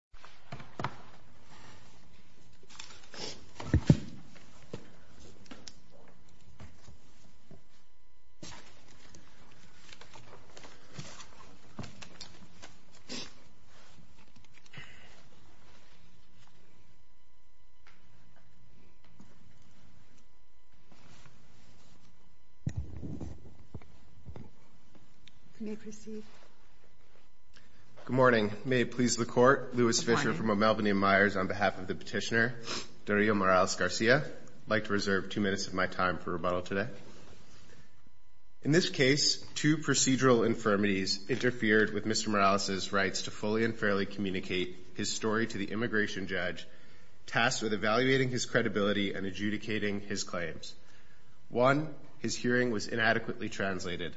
McHenry v. McHenry Good morning. May it please the court, Lewis Fisher from Melbourne and Myers on behalf of the petitioner, Dario Morales Garcia. I'd like to reserve two minutes of my time for rebuttal today. In this case, two procedural infirmities interfered with Mr. Morales' rights to fully and fairly communicate his story to the immigration judge, tasked with evaluating his credibility and adjudicating his claims. One, his hearing was inadequately translated.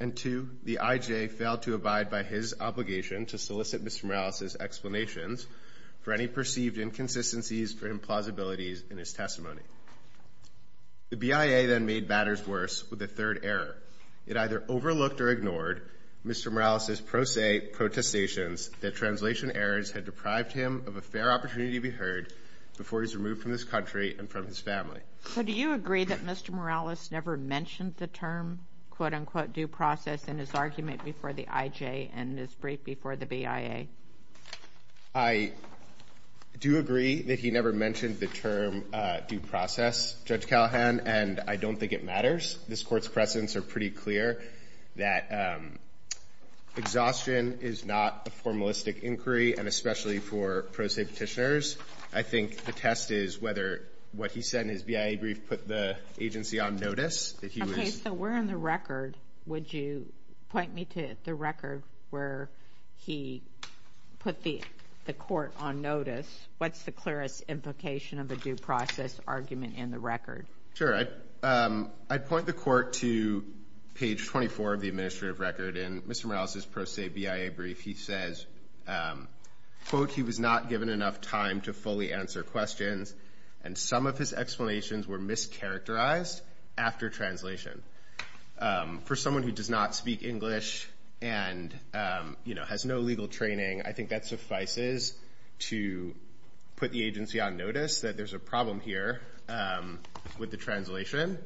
And two, the IJ failed to abide by his obligation to solicit Mr. Morales' explanations for any perceived inconsistencies or implausibilities in his testimony. The BIA then made matters worse with a third error. It either overlooked or ignored Mr. Morales' pro se protestations that translation errors had deprived him of a fair opportunity to be heard before he was removed from this country and from his family. So do you agree that Mr. Morales never mentioned the term, quote, unquote, due process in his argument before the IJ and his brief before the BIA? I do agree that he never mentioned the term due process, Judge Callahan, and I don't think it matters. This Court's precedents are pretty clear that exhaustion is not a formalistic inquiry, and especially for pro se petitioners. I think the test is whether what he said in his BIA brief put the agency on notice, that he was ---- So where in the record would you point me to the record where he put the court on notice? What's the clearest implication of a due process argument in the record? Sure. I'd point the Court to page 24 of the administrative record. In Mr. Morales' pro se BIA brief, he says, quote, he was not given enough time to fully answer questions, and some of his explanations were mischaracterized after translation. For someone who does not speak English and, you know, has no legal training, I think that suffices to put the agency on notice that there's a problem here with the translation.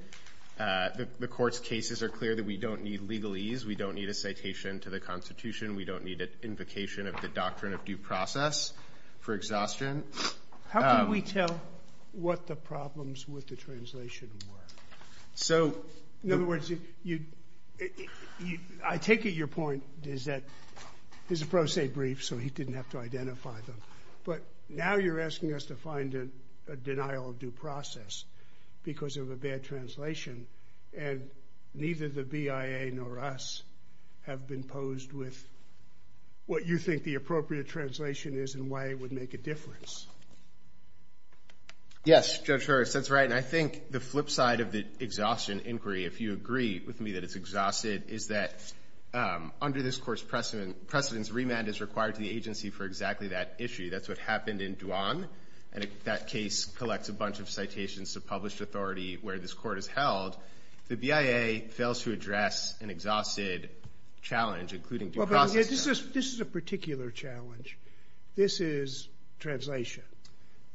The Court's cases are clear that we don't need legalese. We don't need a citation to the Constitution. We don't need an invocation of the doctrine of due process for exhaustion. How can we tell what the problems with the translation were? In other words, I take it your point is that this is a pro se brief, so he didn't have to identify them. But now you're asking us to find a denial of due process because of a bad translation, and neither the BIA nor us have been posed with what you think the appropriate translation is and why it would make a difference. Yes, Judge Harris, that's right. And I think the flip side of the exhaustion inquiry, if you agree with me that it's exhausted, is that under this Court's precedence, remand is required to the agency for exactly that issue. That's what happened in Dwan, and that case collects a bunch of citations to published authority where this Court has held. The BIA fails to address an exhausted challenge, including due process. Well, but this is a particular challenge. This is translation.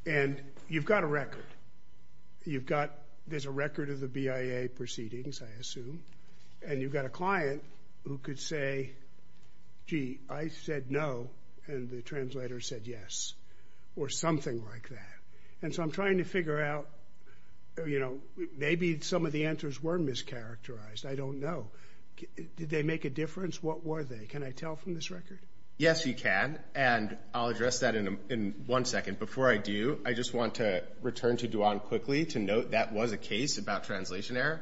And you've got a record. There's a record of the BIA proceedings, I assume, and you've got a client who could say, gee, I said no, and the translator said yes, or something like that. And so I'm trying to figure out, you know, maybe some of the answers were mischaracterized. I don't know. Did they make a difference? What were they? Can I tell from this record? Yes, you can. And I'll address that in one second. Before I do, I just want to return to Dwan quickly to note that was a case about translation error.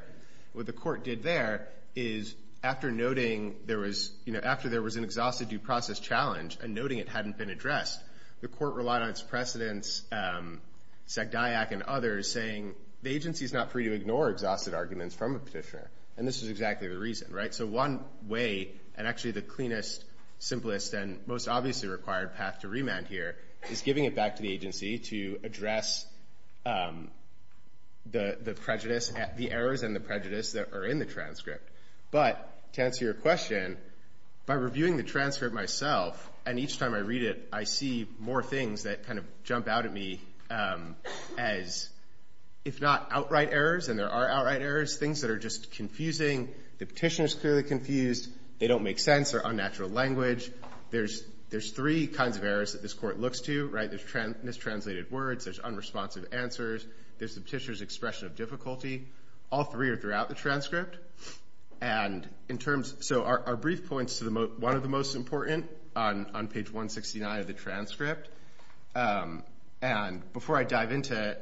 What the Court did there is after noting there was, you know, after there was an exhausted due process challenge and noting it hadn't been addressed, the Court relied on its precedence, Zagdiak and others, saying the agency is not free to ignore exhausted arguments from a petitioner. And this is exactly the reason, right? So one way, and actually the cleanest, simplest, and most obviously required path to remand here, is giving it back to the agency to address the errors and the prejudice that are in the transcript. But to answer your question, by reviewing the transcript myself, and each time I read it, I see more things that kind of jump out at me as if not outright errors, and there are outright errors, things that are just confusing. The petitioner is clearly confused. They don't make sense. They're unnatural language. There's three kinds of errors that this Court looks to, right? There's mistranslated words. There's unresponsive answers. There's the petitioner's expression of difficulty. All three are throughout the transcript. And in terms of our brief points to one of the most important on page 169 of the transcript, and before I dive into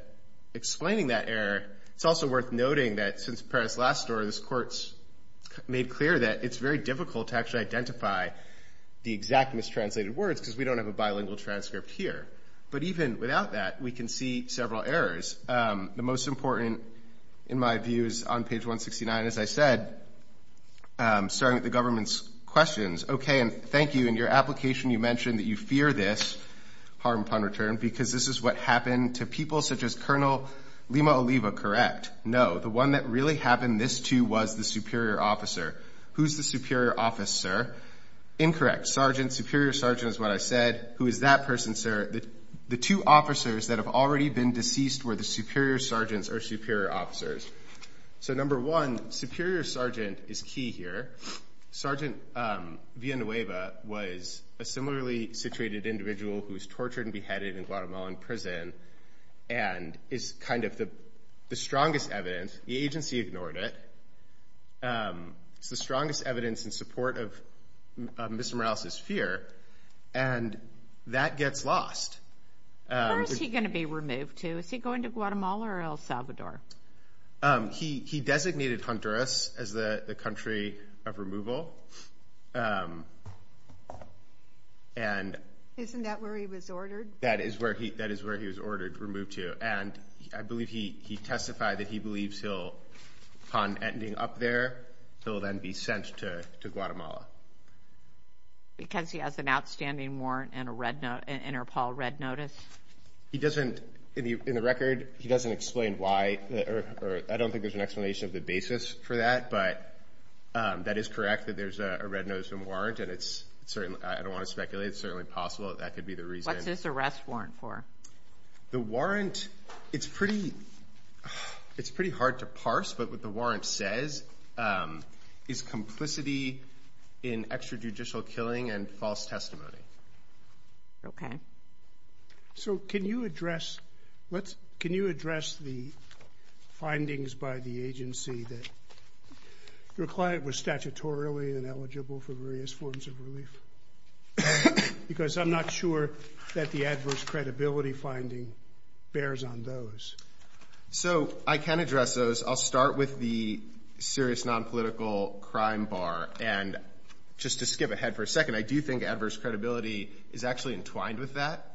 explaining that error, it's also worth noting that since the previous last story, this Court's made clear that it's very difficult to actually identify the exact mistranslated words because we don't have a bilingual transcript here. But even without that, we can see several errors. The most important, in my views, on page 169, as I said, starting with the government's questions, okay, and thank you, in your application you mentioned that you fear this harm pun return because this is what happened to people such as Colonel Lima Oliva, correct? No. The one that really happened this to was the superior officer. Who's the superior officer? Incorrect. Sergeant, superior sergeant is what I said. Who is that person, sir? The two officers that have already been deceased were the superior sergeants or superior officers. So number one, superior sergeant is key here. Sergeant Villanueva was a similarly situated individual who was tortured and beheaded in Guatemalan prison and is kind of the strongest evidence. The agency ignored it. It's the strongest evidence in support of Mr. Morales' fear, and that gets lost. Where is he going to be removed to? Is he going to Guatemala or El Salvador? He designated Honduras as the country of removal. Isn't that where he was ordered? That is where he was ordered to be removed to, and I believe he testified that he believes upon ending up there he'll then be sent to Guatemala. Because he has an outstanding warrant and an Interpol red notice? He doesn't, in the record, he doesn't explain why. I don't think there's an explanation of the basis for that, but that is correct that there's a red notice and warrant, and I don't want to speculate. It's certainly possible that that could be the reason. What's his arrest warrant for? The warrant, it's pretty hard to parse, but what the warrant says is complicity in extrajudicial killing and false testimony. Okay. So can you address the findings by the agency that your client was statutorily ineligible for various forms of relief? Because I'm not sure that the adverse credibility finding bears on those. So I can address those. I'll start with the serious nonpolitical crime bar, and just to skip ahead for a second, I do think adverse credibility is actually entwined with that.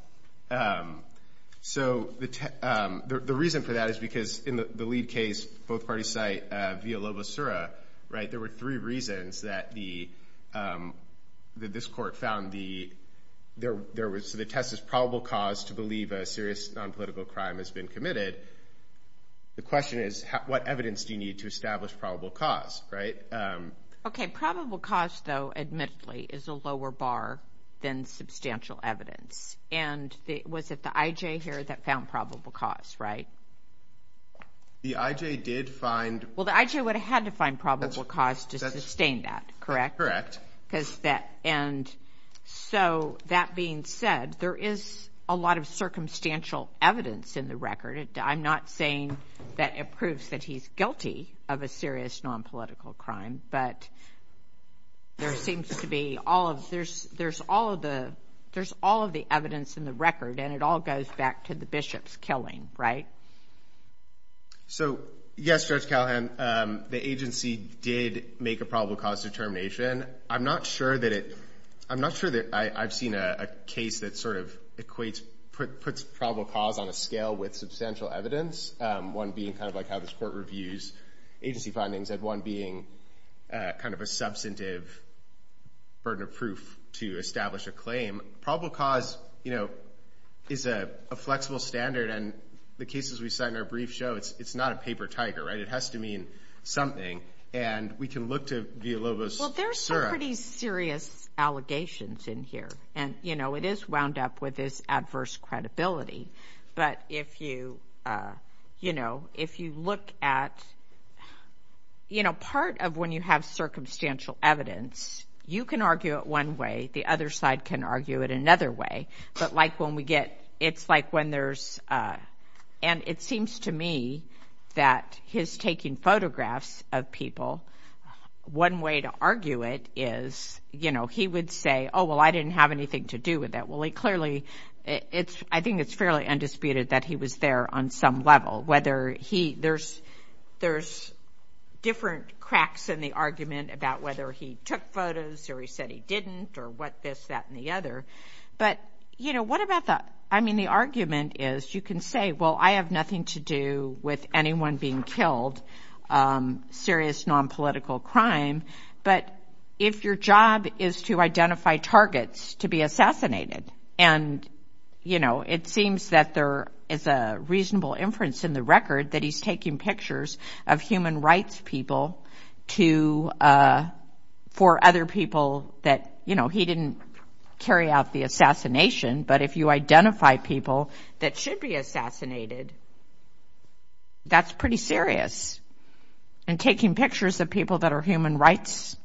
So the reason for that is because in the lead case, both parties cite Villalobos-Sura, right? There were three reasons that this court found the test as probable cause to believe a serious nonpolitical crime has been committed. The question is what evidence do you need to establish probable cause, right? Okay. Probable cause, though, admittedly, is a lower bar than substantial evidence. And was it the I.J. here that found probable cause, right? The I.J. did find – Well, the I.J. would have had to find probable cause to sustain that, correct? Correct. And so that being said, there is a lot of circumstantial evidence in the record. I'm not saying that it proves that he's guilty of a serious nonpolitical crime, but there seems to be all of – there's all of the evidence in the record, and it all goes back to the bishops killing, right? So, yes, Judge Callahan, the agency did make a probable cause determination. I'm not sure that it – I'm not sure that I've seen a case that sort of equates – puts probable cause on a scale with substantial evidence, one being kind of like how this court reviews agency findings and one being kind of a substantive burden of proof to establish a claim. Probable cause, you know, is a flexible standard, and the cases we cite in our brief show, it's not a paper tiger, right? It has to mean something. And we can look to Villalobos. Well, there's some pretty serious allegations in here, and, you know, it is wound up with this adverse credibility. But if you, you know, if you look at – you know, part of when you have circumstantial evidence, you can argue it one way, the other side can argue it another way, but like when we get – it's like when there's – and it seems to me that his taking photographs of people, one way to argue it is, you know, he would say, oh, well, I didn't have anything to do with that. Well, he clearly – I think it's fairly undisputed that he was there on some level, whether he – there's different cracks in the argument about whether he took photos or he said he didn't or what this, that, and the other. But, you know, what about the – I mean, the argument is you can say, well, I have nothing to do with anyone being killed, serious nonpolitical crime. But if your job is to identify targets to be assassinated, and, you know, it seems that there is a reasonable inference in the record that he's taking pictures of human rights people to – for other people that, you know, he didn't carry out the assassination. But if you identify people that should be assassinated, that's pretty serious. And taking pictures of people that are human rights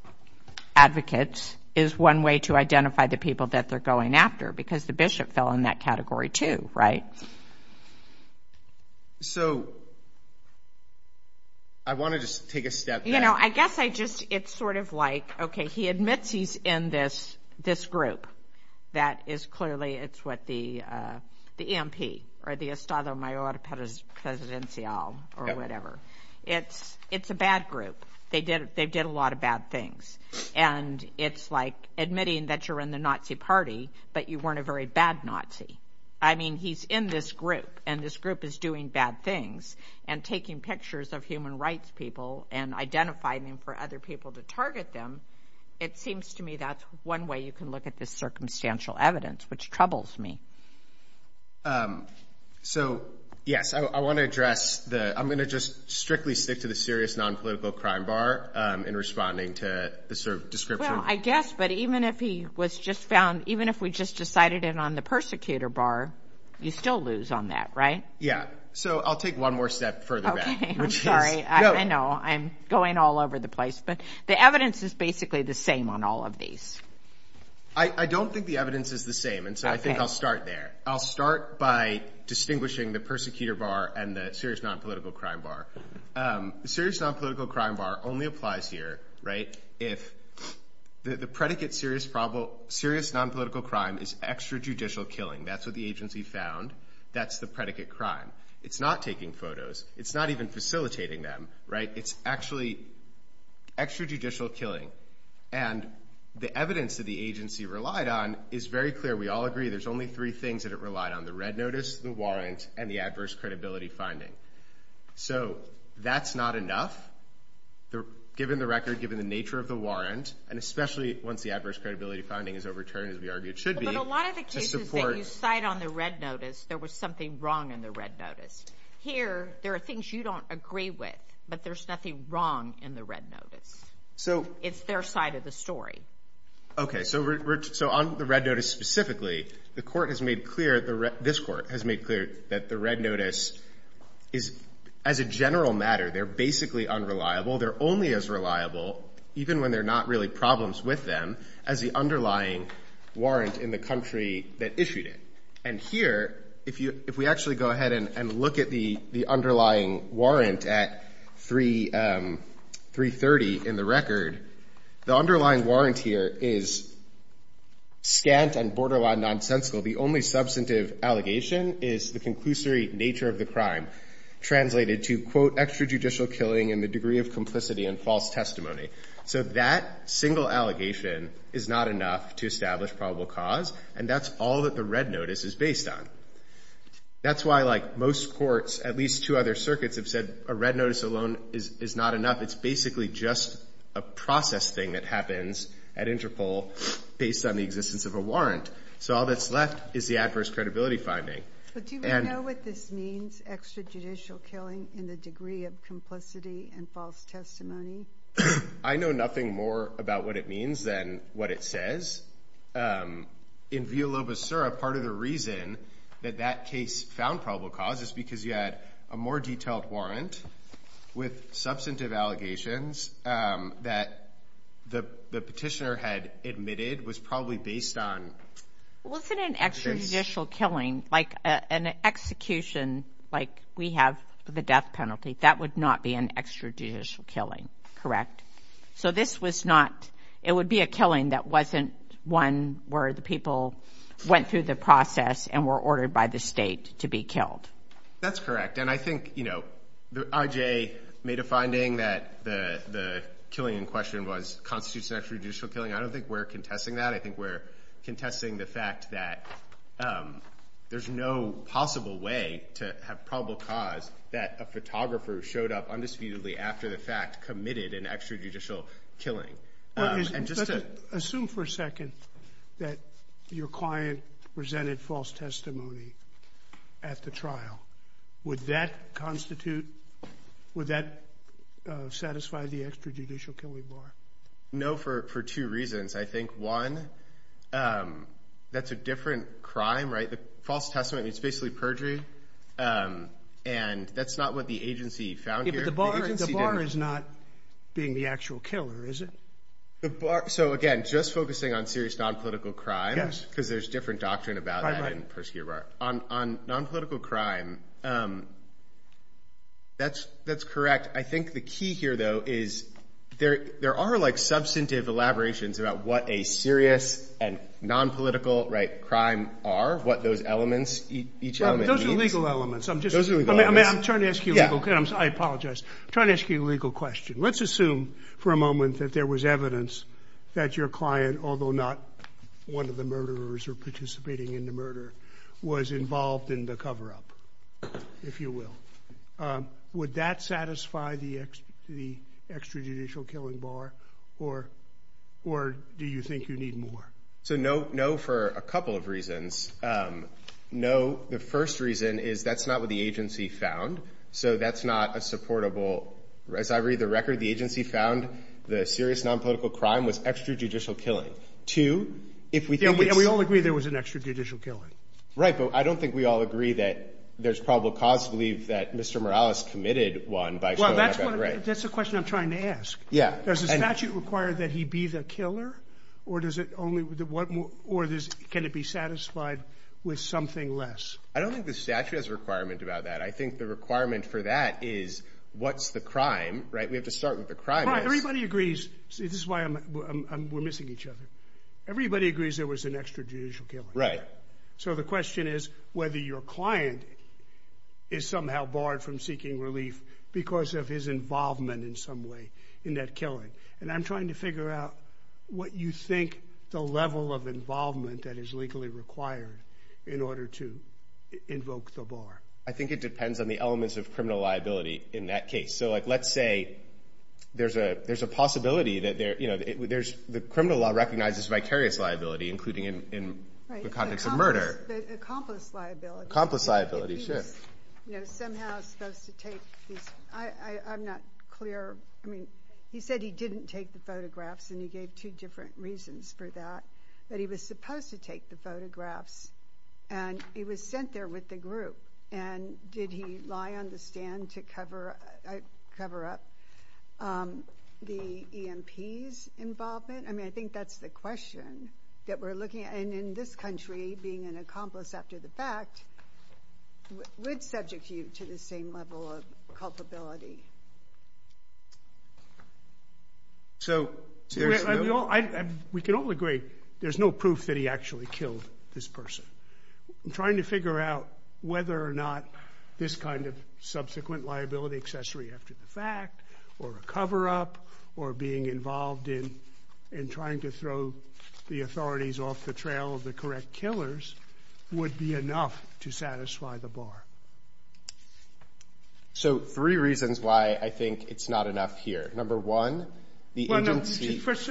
advocates is one way to identify the people that they're going after because the bishop fell in that category too, right? So I want to just take a step back. You know, I guess I just – it's sort of like, okay, he admits he's in this group that is clearly – it's what the EMP or the Estado Mayor Presidencial or whatever. It's a bad group. They did a lot of bad things. And it's like admitting that you're in the Nazi party, but you weren't a very bad Nazi. I mean, he's in this group, and this group is doing bad things, and taking pictures of human rights people and identifying them for other people to target them, it seems to me that's one way you can look at this circumstantial evidence, which troubles me. So, yes, I want to address the – I'm going to just strictly stick to the serious nonpolitical crime bar in responding to the sort of description. Well, I guess, but even if he was just found – even if we just decided it on the persecutor bar, you still lose on that, right? Yeah. So I'll take one more step further back, which is – Okay. I'm sorry. I know. I'm going all over the place. But the evidence is basically the same on all of these. I don't think the evidence is the same, and so I think I'll start there. I'll start by distinguishing the persecutor bar and the serious nonpolitical crime bar. The serious nonpolitical crime bar only applies here, right, if the predicate serious nonpolitical crime is extrajudicial killing. That's what the agency found. That's the predicate crime. It's not taking photos. It's not even facilitating them, right? It's actually extrajudicial killing. And the evidence that the agency relied on is very clear. We all agree there's only three things that it relied on, the red notice, the warrant, and the adverse credibility finding. So that's not enough, given the record, given the nature of the warrant, and especially once the adverse credibility finding is overturned, as we argue it should be. In a lot of the cases that you cite on the red notice, there was something wrong in the red notice. Here, there are things you don't agree with, but there's nothing wrong in the red notice. It's their side of the story. Okay. So on the red notice specifically, the Court has made clear, this Court has made clear, that the red notice is, as a general matter, they're basically unreliable. They're only as reliable, even when there are not really problems with them, as the underlying warrant in the country that issued it. And here, if we actually go ahead and look at the underlying warrant at 330 in the record, the underlying warrant here is scant and borderline nonsensical. The only substantive allegation is the conclusory nature of the crime, translated to, quote, extrajudicial killing in the degree of complicity and false testimony. So that single allegation is not enough to establish probable cause, and that's all that the red notice is based on. That's why, like most courts, at least two other circuits have said a red notice alone is not enough. It's basically just a process thing that happens at Interpol based on the existence of a warrant. So all that's left is the adverse credibility finding. But do we know what this means, extrajudicial killing in the degree of complicity and false testimony? I know nothing more about what it means than what it says. In viola basura, part of the reason that that case found probable cause is because you had a more detailed warrant with substantive allegations that the petitioner had admitted was probably based on. Wasn't an extrajudicial killing, like an execution, like we have the death penalty, that would not be an extrajudicial killing, correct? So this was not – it would be a killing that wasn't one where the people went through the process and were ordered by the state to be killed. That's correct. And I think, you know, I.J. made a finding that the killing in question was – constitutes an extrajudicial killing. I don't think we're contesting that. I think we're contesting the fact that there's no possible way to have probable cause that a photographer showed up undisputedly after the fact committed an extrajudicial killing. Assume for a second that your client presented false testimony at the trial. Would that constitute – would that satisfy the extrajudicial killing bar? No, for two reasons. I think, one, that's a different crime, right? The false testimony is basically perjury, and that's not what the agency found here. But the bar is not being the actual killer, is it? So, again, just focusing on serious nonpolitical crime, because there's different doctrine about that in Persecutor Bar. On nonpolitical crime, that's correct. I think the key here, though, is there are, like, substantive elaborations about what a serious and nonpolitical crime are, what those elements, each element means. Those are legal elements. I'm trying to ask you a legal question. I apologize. I'm trying to ask you a legal question. Let's assume for a moment that there was evidence that your client, although not one of the murderers or participating in the murder, was involved in the cover-up, if you will. Would that satisfy the extrajudicial killing bar, or do you think you need more? So, no for a couple of reasons. No, the first reason is that's not what the agency found, so that's not a supportable. As I read the record, the agency found the serious nonpolitical crime was extrajudicial killing. Two, if we think it's... Yeah, we all agree there was an extrajudicial killing. Right, but I don't think we all agree that there's probable cause to believe that Mr. Morales committed one by showing up at a rave. That's the question I'm trying to ask. Does the statute require that he be the killer, or can it be satisfied with something less? I don't think the statute has a requirement about that. I think the requirement for that is what's the crime, right? We have to start with the crime. Right, everybody agrees. This is why we're missing each other. Everybody agrees there was an extrajudicial killing. Right. So the question is whether your client is somehow barred from seeking relief because of his involvement in some way in that killing. And I'm trying to figure out what you think the level of involvement that is legally required in order to invoke the bar. I think it depends on the elements of criminal liability in that case. So let's say there's a possibility that there's... The criminal law recognizes vicarious liability, including in the context of murder. Right, accomplice liability. Accomplice liability, sure. If he's somehow supposed to take these... I'm not clear. He said he didn't take the photographs, and he gave two different reasons for that. But he was supposed to take the photographs, and he was sent there with the group. And did he lie on the stand to cover up the EMP's involvement? I mean, I think that's the question that we're looking at. And in this country, being an accomplice after the fact would subject you to the same level of culpability. We can all agree there's no proof that he actually killed this person. I'm trying to figure out whether or not this kind of subsequent liability, accessory after the fact, or a cover-up, or being involved in trying to throw the authorities off the trail of the correct killers would be enough to satisfy the bar. So three reasons why I think it's not enough here. Number one, the agency... First,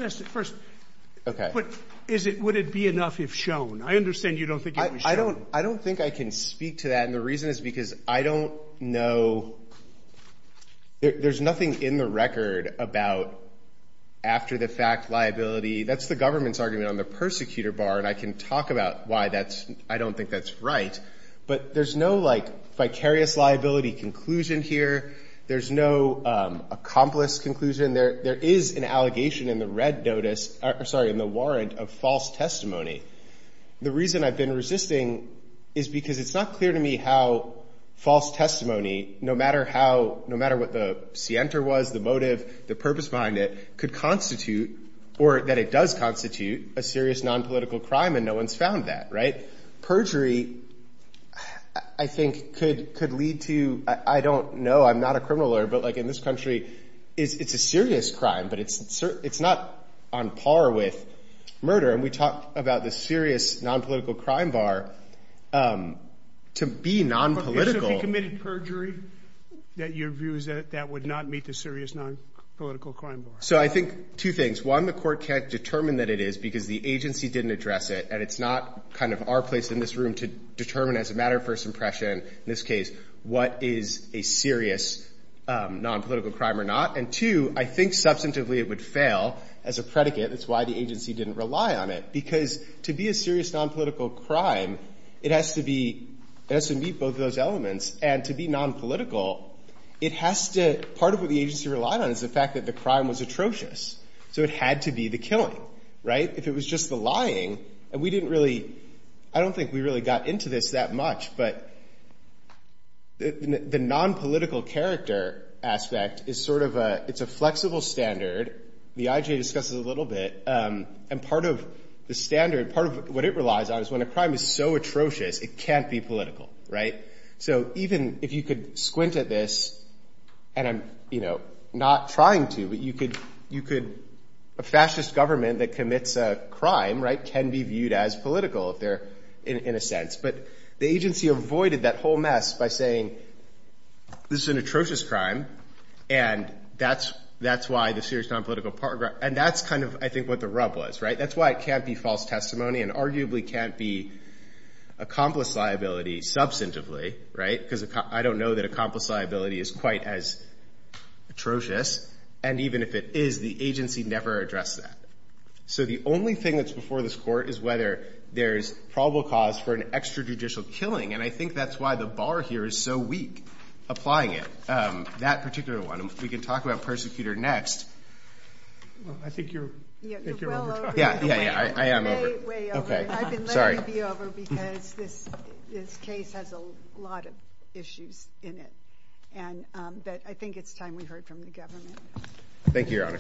would it be enough if shown? I understand you don't think it was shown. I don't think I can speak to that, and the reason is because I don't know... There's nothing in the record about after-the-fact liability. That's the government's argument on the persecutor bar, and I can talk about why I don't think that's right. But there's no, like, vicarious liability conclusion here. There's no accomplice conclusion. There is an allegation in the red notice... Sorry, in the warrant of false testimony. The reason I've been resisting is because it's not clear to me how false testimony, no matter how... no matter what the scienter was, the motive, the purpose behind it, could constitute, or that it does constitute, a serious nonpolitical crime, and no one's found that, right? Perjury, I think, could lead to... I don't know. I'm not a criminal lawyer, but, like, in this country, it's a serious crime, but it's not on par with murder, and we talked about the serious nonpolitical crime bar... To be nonpolitical... So if you committed perjury, your view is that that would not meet the serious nonpolitical crime bar? So I think two things. One, the Court can't determine that it is because the agency didn't address it, and it's not kind of our place in this room to determine as a matter of first impression, in this case, what is a serious nonpolitical crime or not. And two, I think substantively it would fail as a predicate. That's why the agency didn't rely on it, because to be a serious nonpolitical crime, it has to meet both of those elements, and to be nonpolitical, it has to... Part of what the agency relied on is the fact that the crime was atrocious, so it had to be the killing, right? If it was just the lying, and we didn't really... I don't think we really got into this that much, but the nonpolitical character aspect is sort of a... It's a flexible standard. The IJA discusses it a little bit, and part of the standard, part of what it relies on is when a crime is so atrocious, it can't be political, right? So even if you could squint at this, and I'm, you know, not trying to, but you could... A fascist government that commits a crime, right, can be viewed as political if they're... in a sense. But the agency avoided that whole mess by saying, this is an atrocious crime, and that's why the serious nonpolitical... And that's kind of, I think, what the rub was, right? That's why it can't be false testimony and arguably can't be accomplice liability substantively, right? Because I don't know that accomplice liability is quite as atrocious, and even if it is, the agency never addressed that. So the only thing that's before this Court is whether there's probable cause for an extrajudicial killing, and I think that's why the bar here is so weak, applying it, that particular one. We can talk about Persecutor next. Well, I think you're... Yeah, you're well over. Yeah, yeah, yeah, I am over. Way, way over. Okay, sorry. I've been letting you be over because this case has a lot of issues in it, but I think it's time we heard from the government. Thank you, Your Honor.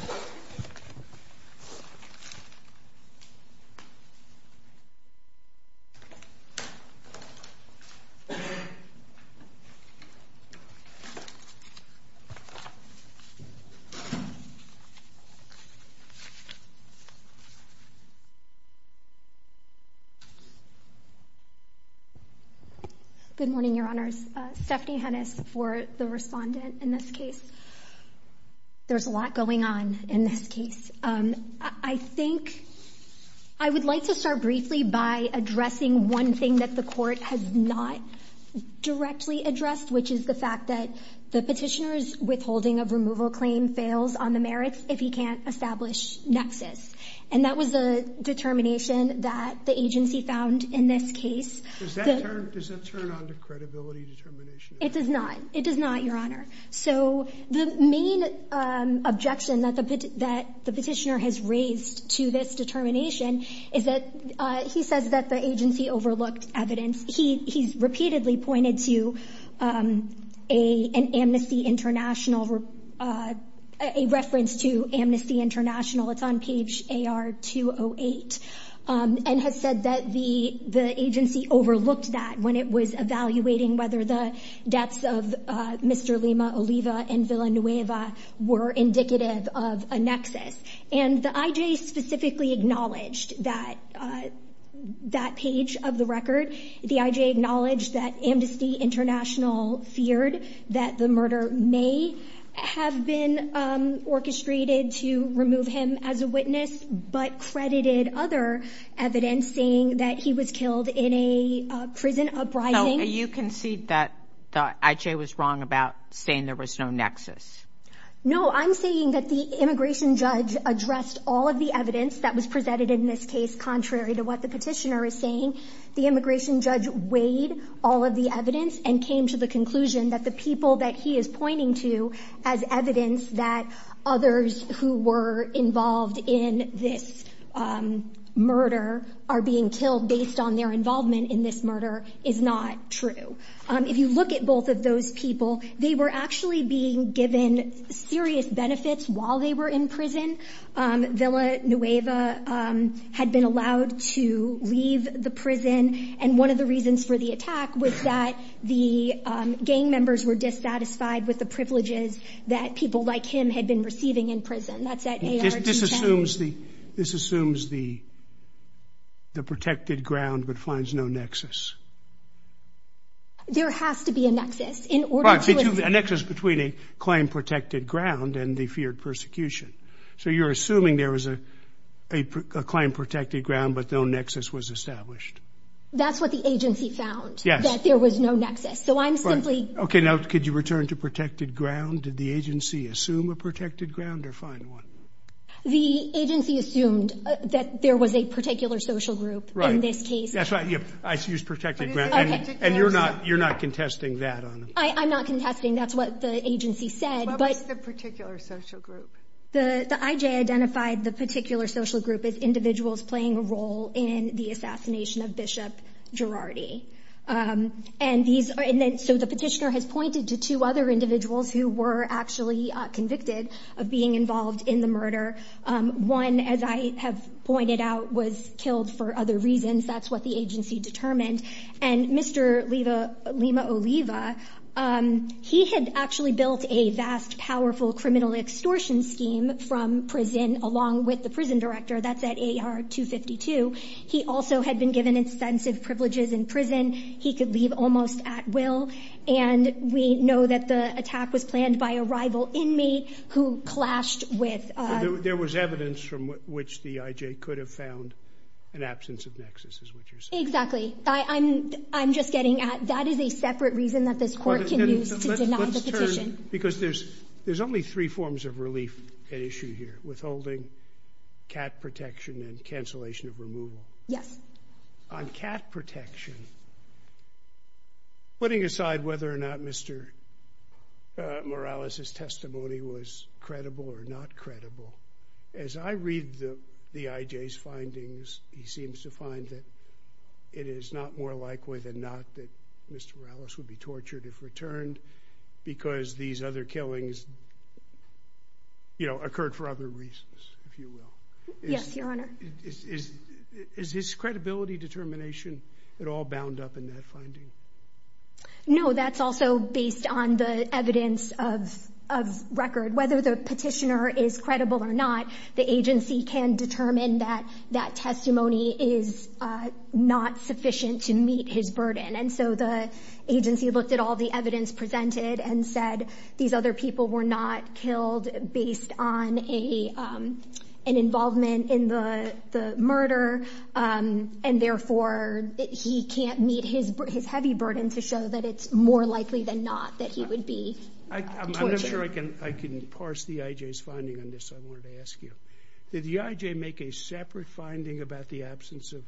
Good morning, Your Honors. Stephanie Hennis for the respondent in this case. There's a lot going on in this case. I think... I would like to start briefly by addressing one thing that the Court has not directly addressed, which is the fact that the petitioner's withholding of evidence fails on the merits if he can't establish nexus, and that was a determination that the agency found in this case. Does that turn on to credibility determination? It does not. It does not, Your Honor. So the main objection that the petitioner has raised to this determination is that he says that the agency overlooked evidence. He's repeatedly pointed to an Amnesty International, a reference to Amnesty International. It's on page AR-208, and has said that the agency overlooked that when it was evaluating whether the deaths of Mr. Lima, Oliva, and Villanueva were indicative of a nexus. And the IJ specifically acknowledged that page of the record. The IJ acknowledged that Amnesty International feared that the murder may have been orchestrated to remove him as a witness, but credited other evidence saying that he was killed in a prison uprising. So you concede that the IJ was wrong about saying there was no nexus? No. I'm saying that the immigration judge addressed all of the evidence that was presented in this case contrary to what the petitioner is saying. The immigration judge weighed all of the evidence and came to the conclusion that the people that he is pointing to as evidence that others who were involved in this murder are being killed based on their involvement in this murder is not true. If you look at both of those people, they were actually being given serious benefits while they were in prison. Villanueva had been allowed to leave the prison, and one of the reasons for the attack was that the gang members were dissatisfied with the privileges that people like him had been receiving in prison. This assumes the protected ground but finds no nexus. There has to be a nexus. A nexus between a claimed protected ground and the feared persecution. So you're assuming there was a claimed protected ground but no nexus was established. That's what the agency found, that there was no nexus. Okay, now could you return to protected ground? Did the agency assume a protected ground or find one? The agency assumed that there was a particular social group in this case. And you're not contesting that? I'm not contesting. That's what the agency said. What was the particular social group? The IJ identified the particular social group as individuals playing a role in the assassination of Bishop Girardi. So the petitioner has pointed to two other individuals who were actually convicted of being involved in the murder. One, as I have pointed out, was killed for other reasons. That's what the agency determined. And Mr. Lima Oliva, he had actually built a vast, powerful criminal extortion scheme from prison along with the prison director. That's at AR-252. He also had been given extensive privileges in prison. He could leave almost at will. And we know that the attack was planned by a rival inmate who clashed with – There was evidence from which the IJ could have found an absence of nexus, is what you're saying. Exactly. I'm just getting at that is a separate reason that this court can use to deny the petition. Because there's only three forms of relief at issue here, withholding, cat protection, and cancellation of removal. Yes. On cat protection, putting aside whether or not Mr. Morales' testimony was credible or not credible, as I read the IJ's findings, he seems to find that it is not more likely than not that Mr. Morales would be tortured if returned because these other killings occurred for other reasons, if you will. Yes, Your Honor. Is his credibility determination at all bound up in that finding? No, that's also based on the evidence of record. Whether the petitioner is credible or not, the agency can determine that that testimony is not sufficient to meet his burden. And so the agency looked at all the evidence presented and said these other people were not killed based on an involvement in the murder, and therefore he can't meet his heavy burden to show that it's more likely than not that he would be tortured. I'm not sure I can parse the IJ's finding on this. I wanted to ask you, did the IJ make a separate finding about the absence of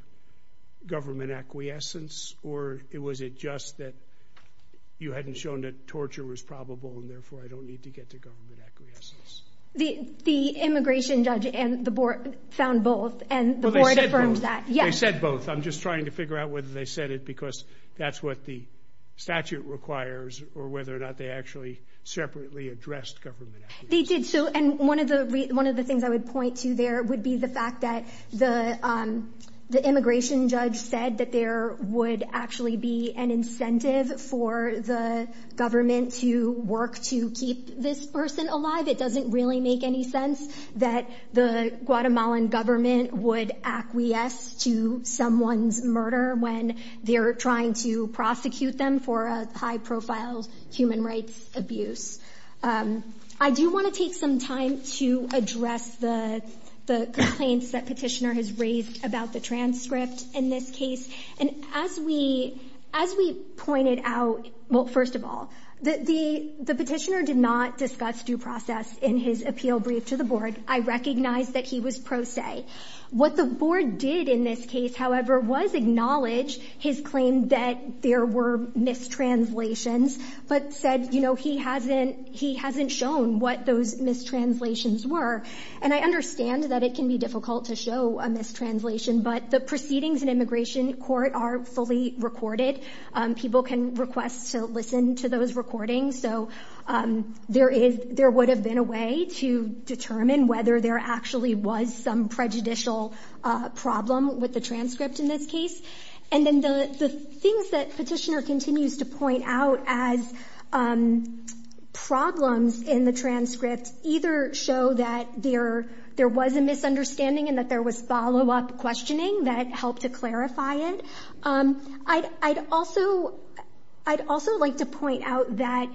government acquiescence or was it just that you hadn't shown that torture was probable and therefore I don't need to get to government acquiescence? The immigration judge and the board found both, and the board affirmed that. They said both. I'm just trying to figure out whether they said it because that's what the statute requires or whether or not they actually separately addressed government acquiescence. They did. And one of the things I would point to there would be the fact that the immigration judge said that there would actually be an incentive for the government to work to keep this person alive. It doesn't really make any sense that the Guatemalan government would acquiesce to someone's murder when they're trying to prosecute them for a high-profile human rights abuse. I do want to take some time to address the complaints that Petitioner has raised about the transcript in this case. And as we pointed out, well, first of all, the Petitioner did not discuss due process in his appeal brief to the board. I recognize that he was pro se. What the board did in this case, however, was acknowledge his claim that there were mistranslations, but said, you know, he hasn't shown what those mistranslations were. And I understand that it can be difficult to show a mistranslation, but the proceedings in immigration court are fully recorded. People can request to listen to those recordings. So there would have been a way to determine whether there actually was some prejudicial problem with the transcript in this case. And then the things that Petitioner continues to point out as problems in the transcript either show that there was a misunderstanding and that there was follow-up questioning that helped to clarify it. I'd also like to point out that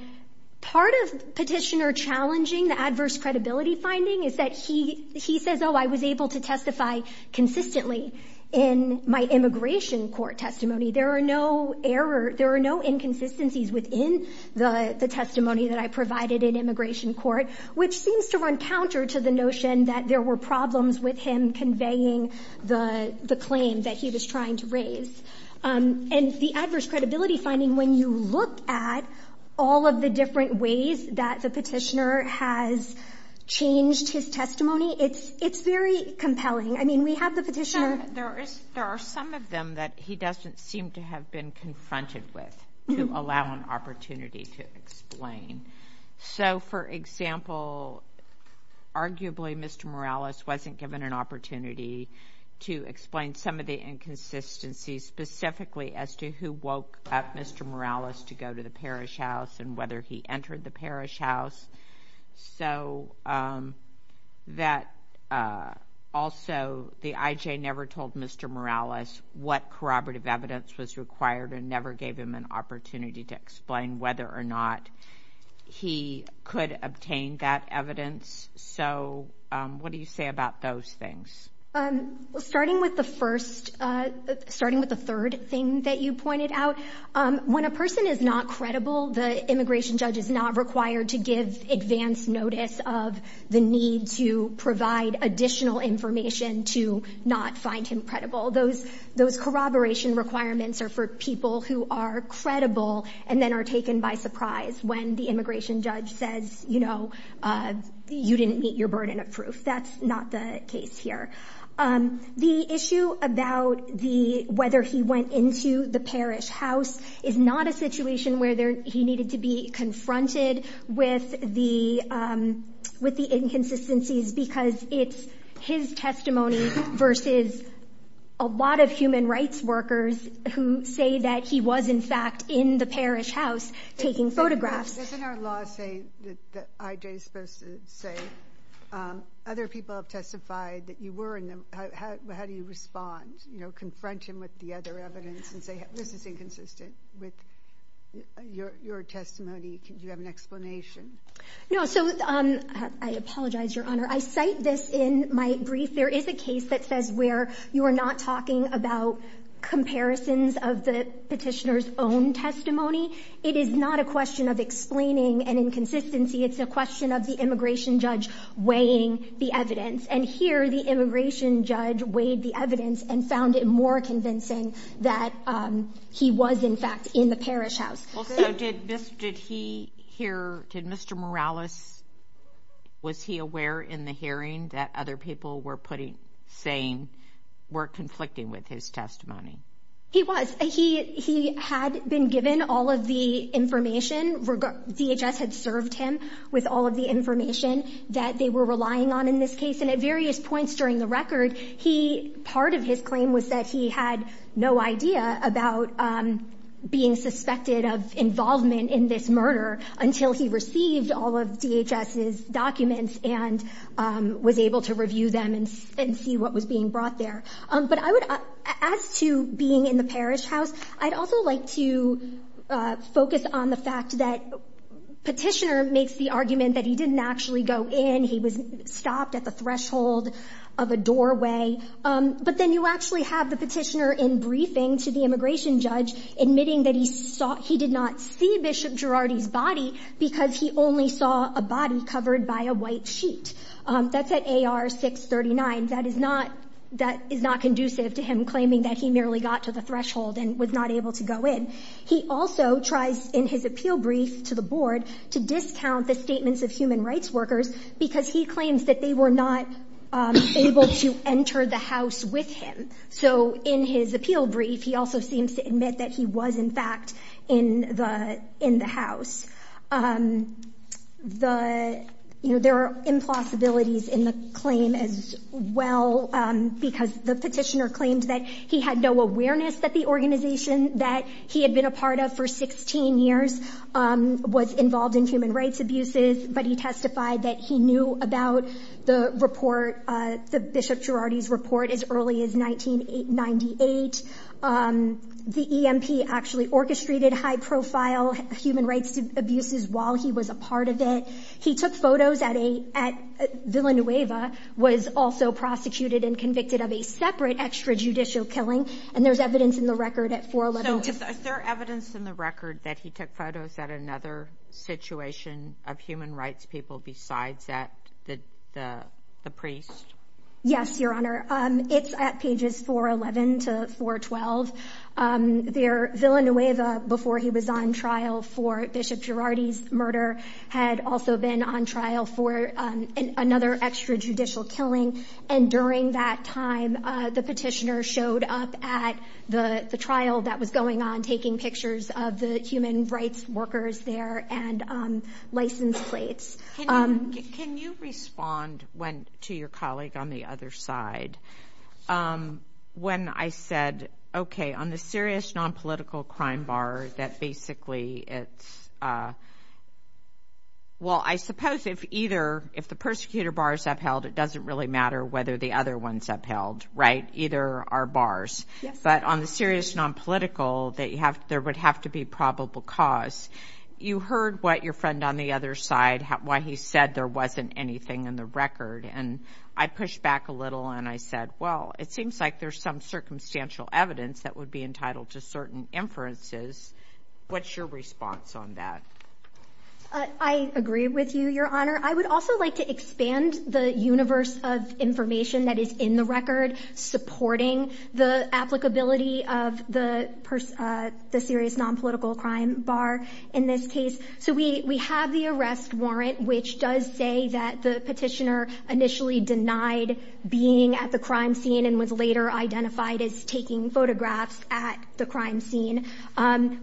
part of Petitioner challenging the adverse credibility finding is that he says, oh, I was able to testify consistently in my immigration court testimony. There are no error, there are no inconsistencies within the testimony that I provided in immigration court, which seems to run counter to the notion that there were problems with him conveying the claim that he was trying to raise. And the adverse credibility finding, when you look at all of the different ways that the Petitioner has changed his testimony, it's very compelling. I mean, we have the Petitioner... There are some of them that he doesn't seem to have been confronted with to allow an opportunity to explain. So, for example, arguably Mr. Morales wasn't given an opportunity to explain some of the inconsistencies specifically as to who woke up Mr. Morales to go to the parish house and whether he entered the parish house. So that also the IJ never told Mr. Morales what corroborative evidence was required and never gave him an opportunity to explain whether or not he could obtain that evidence. So what do you say about those things? Starting with the third thing that you pointed out, when a person is not credible, the immigration judge is not required to give advance notice of the need to provide additional information to not find him credible. Those corroboration requirements are for people who are credible and then are taken by surprise when the immigration judge says, you know, you didn't meet your burden of proof. That's not the case here. The issue about whether he went into the parish house is not a situation where he needed to be confronted with the inconsistencies because it's his testimony versus a lot of human rights workers who say that he was, in fact, in the parish house taking photographs. Doesn't our law say that the IJ is supposed to say, other people have testified that you were in them. How do you respond? You know, confront him with the other evidence and say this is inconsistent with your testimony. Do you have an explanation? No, so I apologize, Your Honor. I cite this in my brief. There is a case that says where you are not talking about comparisons of the petitioner's own testimony. It is not a question of explaining an inconsistency. It's a question of the immigration judge weighing the evidence. And here the immigration judge weighed the evidence and found it more convincing that he was, in fact, in the parish house. Did Mr. Morales, was he aware in the hearing that other people were saying were conflicting with his testimony? He was. He had been given all of the information. DHS had served him with all of the information that they were relying on in this case. And at various points during the record, he, part of his claim was that he had no idea about being suspected of involvement in this murder until he received all of DHS's documents and was able to review them and see what was being brought there. But I would, as to being in the parish house, I'd also like to focus on the fact that petitioner makes the argument that he didn't actually go in. He was stopped at the threshold of a doorway. But then you actually have the petitioner in briefing to the immigration judge admitting that he saw, he did not see Bishop Girardi's body because he only saw a body covered by a white sheet. That's at AR 639. That is not, that is not conducive to him claiming that he merely got to the threshold and was not able to go in. He also tries in his appeal brief to the board to discount the statements of human rights workers because he claims that they were not able to enter the house with him. So in his appeal brief, he also seems to admit that he was, in fact, in the house. The, you know, there are impossibilities in the claim as well because the petitioner claimed that he had no awareness that the organization that he had been a part of for 16 years was involved in human rights abuses, but he testified that he knew about the report, the Bishop Girardi's report, as early as 1998. The EMP actually orchestrated high-profile human rights abuses while he was a part of it. He took photos at Villanueva, was also prosecuted and convicted of a separate extrajudicial killing, and there's evidence in the record at 411. So is there evidence in the record that he took photos at another situation of human rights people besides at the priest? Yes, Your Honor. It's at pages 411 to 412. Villanueva, before he was on trial for Bishop Girardi's murder, had also been on trial for another extrajudicial killing, and during that time, the petitioner showed up at the trial that was going on, taking pictures of the human rights workers there and license plates. Can you respond to your colleague on the other side? When I said, okay, on the serious nonpolitical crime bar, that basically it's a... Well, I suppose if either, if the persecutor bar is upheld, it doesn't really matter whether the other one's upheld, right? Either are bars. But on the serious nonpolitical, there would have to be probable cause. You heard what your friend on the other side, why he said there wasn't anything in the record, and I pushed back a little and I said, well, it seems like there's some circumstantial evidence that would be entitled to certain inferences. What's your response on that? I agree with you, Your Honor. I would also like to expand the universe of information that is in the record supporting the applicability of the serious nonpolitical crime bar in this case. So we have the arrest warrant, which does say that the petitioner initially denied being at the crime scene and was later identified as taking photographs at the crime scene.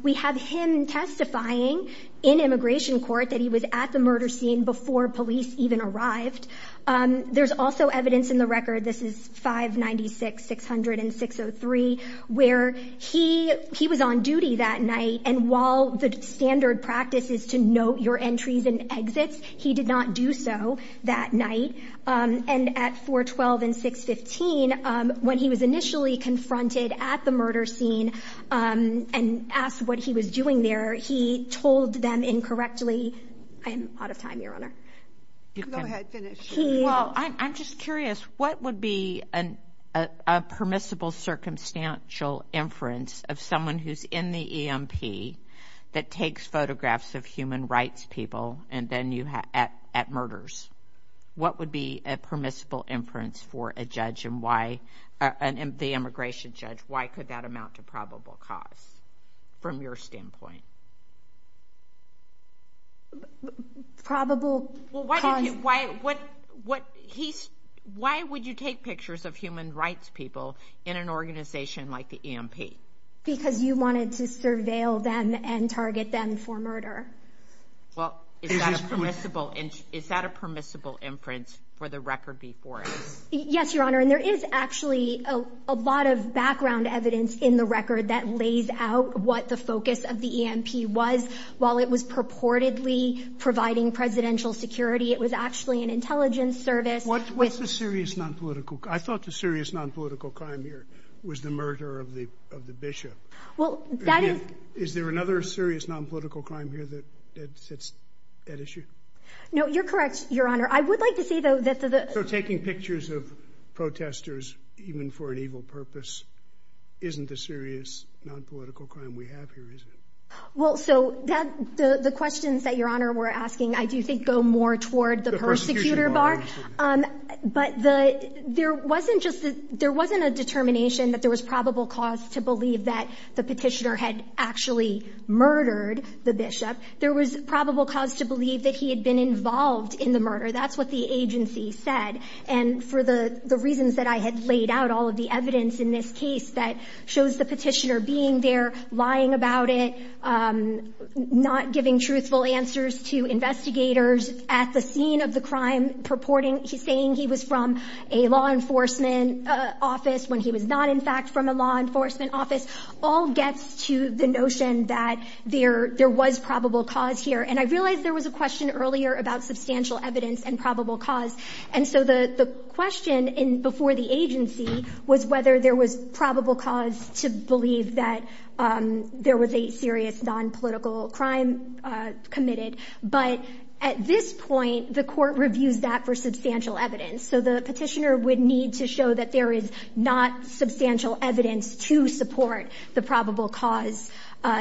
We have him testifying in immigration court that he was at the murder scene before police even arrived. There's also evidence in the record, this is 596-600-603, where he was on duty that night and while the standard practice is to note your entries and exits, he did not do so that night. And at 412 and 615, when he was initially confronted at the murder scene and asked what he was doing there, he told them incorrectly, I am out of time, Your Honor. Go ahead, finish. Well, I'm just curious, what would be a permissible circumstantial inference of someone who's in the EMP that takes photographs of human rights people at murders? What would be a permissible inference for an immigration judge? Why could that amount to probable cause from your standpoint? Probable cause? Well, why would you take pictures of human rights people in an organization like the EMP? Because you wanted to surveil them and target them for murder. Well, is that a permissible inference for the record before us? Yes, Your Honor, and there is actually a lot of background evidence in the record that lays out what the focus of the EMP was while it was purportedly providing presidential security. It was actually an intelligence service. What's the serious non-political... I thought the serious non-political crime here was the murder of the bishop. Well, that is... Is there another serious non-political crime here that sits at issue? No, you're correct, Your Honor. I would like to see, though, that the... So taking pictures of protesters, even for an evil purpose, isn't the serious non-political crime we have here, is it? Well, so that... The questions that Your Honor were asking, I do think, go more toward the persecutor bar. The persecutor bar, absolutely. But the... There wasn't just a... There wasn't a determination that there was probable cause to believe that the Petitioner had actually murdered the bishop. There was probable cause to believe that he had been involved in the murder. That's what the agency said. And for the reasons that I had laid out, all of the evidence in this case that shows the Petitioner being there, lying about it, not giving truthful answers to investigators at the scene of the crime, purporting he's saying he was from a law enforcement office when he was not, in fact, from a law enforcement office, all gets to the notion that there was probable cause here. And I realized there was a question earlier about substantial evidence and probable cause. And so the question before the agency was whether there was probable cause to believe that there was a serious nonpolitical crime committed. But at this point, the Court reviews that for substantial evidence. So the Petitioner would need to show that there is not substantial evidence to support the probable cause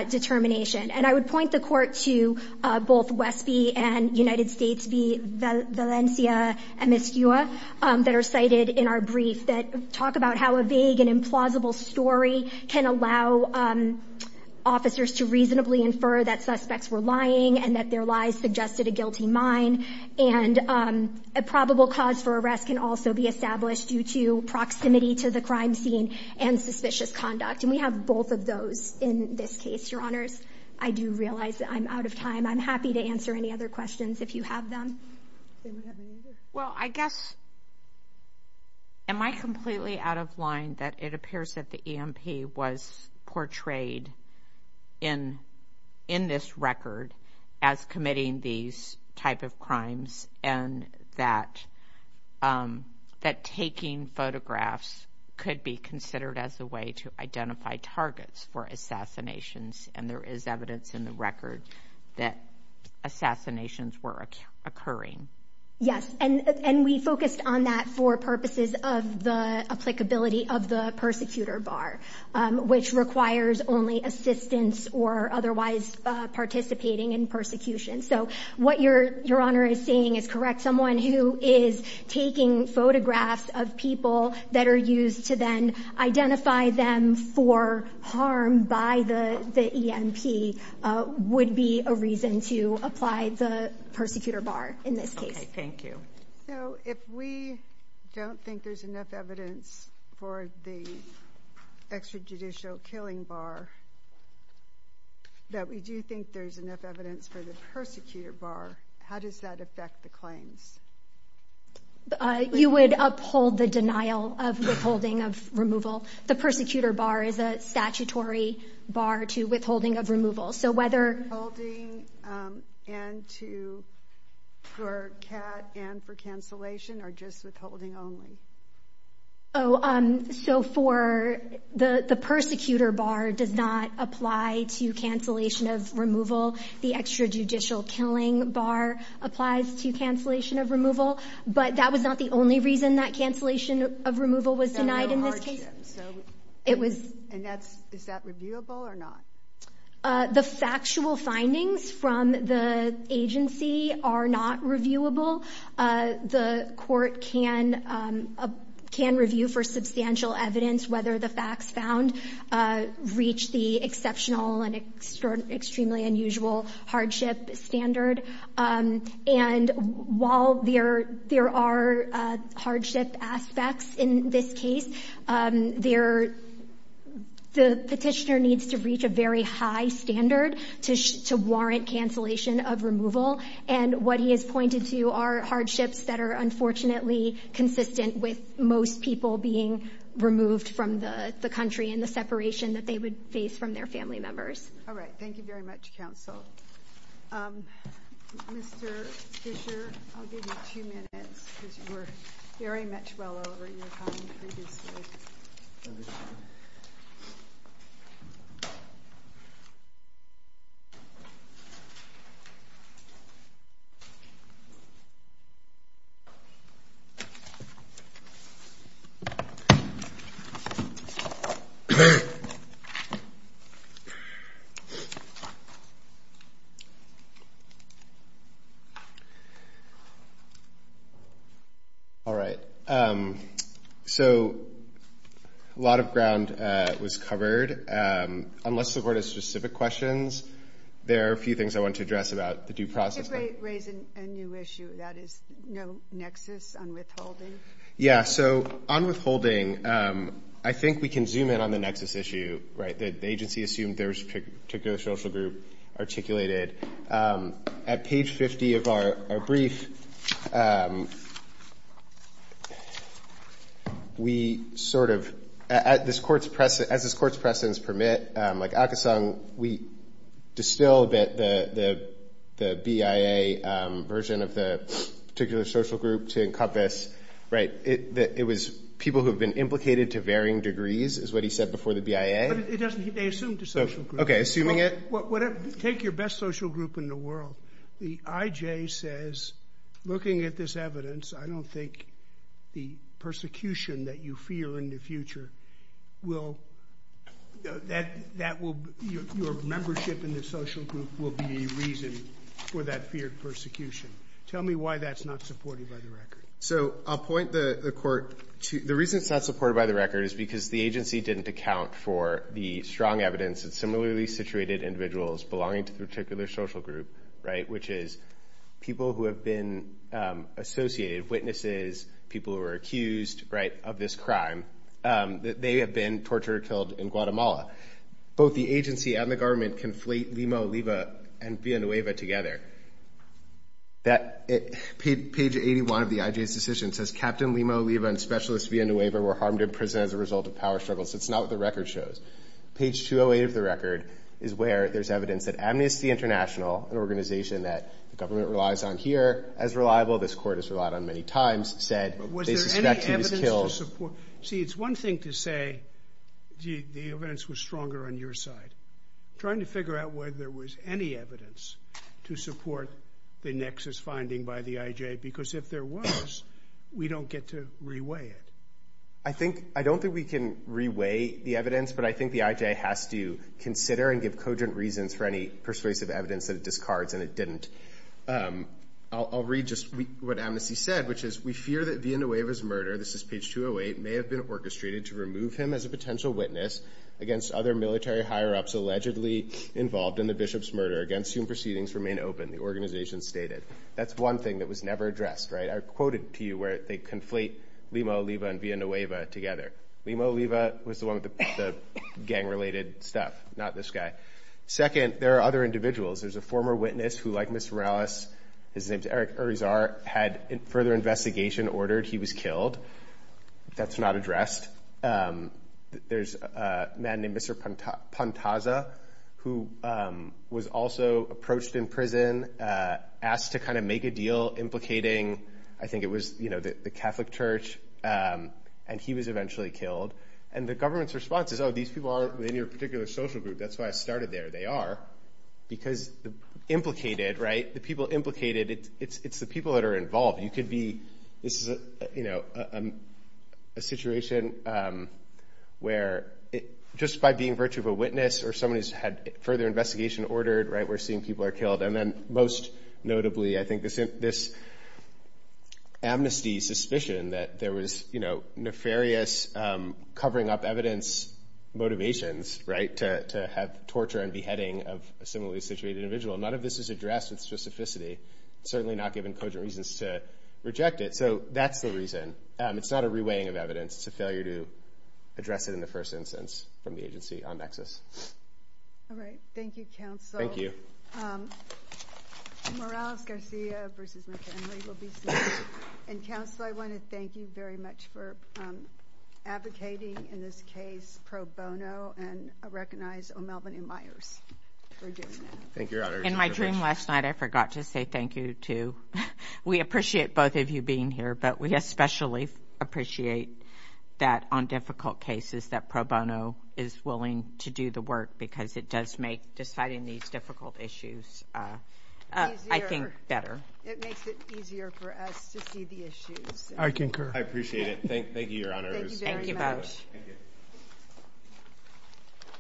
determination. And I would point the Court to both Westby and United States v. Valencia, MSUA, that are cited in our brief, that talk about how a vague and implausible story can allow officers to reasonably infer that suspects were lying and that their lies suggested a guilty mind. And a probable cause for arrest can also be established due to proximity to the crime scene and suspicious conduct. And we have both of those in this case, Your Honors. I do realize that I'm out of time. I'm happy to answer any other questions if you have them. Well, I guess, am I completely out of line that it appears that the EMP was portrayed in this record as committing these type of crimes and that taking photographs could be considered as a way to identify targets for assassinations and there is evidence in the record that assassinations were occurring? Yes, and we focused on that for purposes of the applicability of the persecutor bar, which requires only assistance or otherwise participating in persecution. So what Your Honor is saying is correct. Someone who is taking photographs of people that are used to then identify them for harm by the EMP would be a reason to apply the persecutor bar in this case. Okay, thank you. So if we don't think there's enough evidence for the extrajudicial killing bar, that we do think there's enough evidence for the persecutor bar, how does that affect the claims? You would uphold the denial of withholding of removal. The persecutor bar is a statutory bar to withholding of removal. So whether... Withholding and to, for CAT and for cancellation or just withholding only? Oh, so for the persecutor bar does not apply to cancellation of removal. The extrajudicial killing bar applies to cancellation of removal. But that was not the only reason that cancellation of removal was denied in this case. So it was... And that's... Is that reviewable or not? The factual findings from the agency are not reviewable. The court can review for substantial evidence whether the facts found reach the exceptional and extremely unusual hardship standard. And while there are hardship aspects in this case, the petitioner needs to reach a very high standard to warrant cancellation of removal. And what he has pointed to are hardships that are unfortunately consistent with most people being removed from the country and the separation that they would face from their family members. All right. Thank you very much, counsel. Mr. Fisher, I'll give you two minutes because you were very much well over your time previously. All right. So a lot of ground was covered. Unless the court has specific questions, there are a few things I want to address about the due process. If I raise a new issue, that is no nexus on withholding. Yeah. So on withholding, I think we can zoom in on the nexus issue, right? The agency assumed there was a particular social group articulated. At page 50 of our brief, we sort of, as this Court's precedents permit, like Akesang, we distilled the BIA version of the particular social group to encompass, right, it was people who have been implicated to varying degrees, is what he said before the BIA. But it doesn't mean they assumed a social group. Okay. Assuming it? Take your best social group in the world. The IJ says, looking at this evidence, I don't think the persecution that you fear in the future will, that will, your membership in the social group will be the reason for that feared persecution. Tell me why that's not supported by the record. So I'll point the Court to, the reason it's not supported by the record is because the agency didn't account for the strong evidence that similarly situated individuals belonging to the particular social group, right, which is people who have been associated, witnesses, people who were accused, right, of this crime, that they have been tortured or killed in Guatemala. Both the agency and the government conflate Lima, Oliva, and Villanueva together. Page 81 of the IJ's decision says, Captain Lima, Oliva, and Specialist Villanueva were harmed in prison as a result of power struggles. That's not what the record shows. Page 208 of the record is where there's evidence that Amnesty International, an organization that the government relies on here as reliable, this Court has relied on many times, said they suspect he was killed. Was there any evidence to support, see, it's one thing to say the evidence was stronger on your side. Trying to figure out whether there was any evidence to support the nexus finding by the IJ, because if there was, we don't get to reweigh it. I think, I don't think we can reweigh the evidence, but I think the IJ has to consider and give cogent reasons for any persuasive evidence that it discards, and it didn't. I'll read just what Amnesty said, which is, we fear that Villanueva's murder, this is page 208, may have been orchestrated to remove him as a potential witness against other military higher-ups allegedly involved in the bishop's murder. Against whom proceedings remain open, the organization stated. That's one thing that was never addressed, right? I quoted to you where they conflate Lima, Oliva, and Villanueva together. Lima, Oliva was the one with the gang-related stuff, not this guy. Second, there are other individuals. There's a former witness who, like Mr. Morales, his name's Eric Urizar, had further investigation ordered. He was killed. That's not addressed. There's a man named Mr. Pantaza, who was also approached in prison, asked to kind of make a deal implicating, I think it was, you know, the Catholic Church, and he was eventually killed. And the government's response is, oh, these people aren't in your particular social group. That's why I started there. They are, because implicated, right? The people implicated, it's the people that are involved. You could be, this is, you know, a situation where, just by being virtue of a witness or someone who's had further investigation ordered, right, we're seeing people are killed. And then most notably, I think, this amnesty suspicion that there was, you know, nefarious covering up evidence motivations, right, to have torture and beheading of a similarly situated individual. None of this is addressed with specificity, certainly not given cogent reasons to reject it. So that's the reason. It's not a reweighing of evidence. It's a failure to address it in the first instance from the agency on nexus. All right. Thank you, counsel. Thank you. Morales-Garcia versus McHenry will be seated. And, counsel, I want to thank you very much for advocating, in this case, pro bono and recognize O'Melveny Myers for doing that. Thank you, Your Honor. In my dream last night, I forgot to say thank you to. We appreciate both of you being here, but we especially appreciate that on difficult cases, that pro bono is willing to do the work because it does make deciding these difficult issues, I think, better. It makes it easier for us to see the issues. I concur. I appreciate it. Thank you, Your Honor. Thank you very much. Thank you both.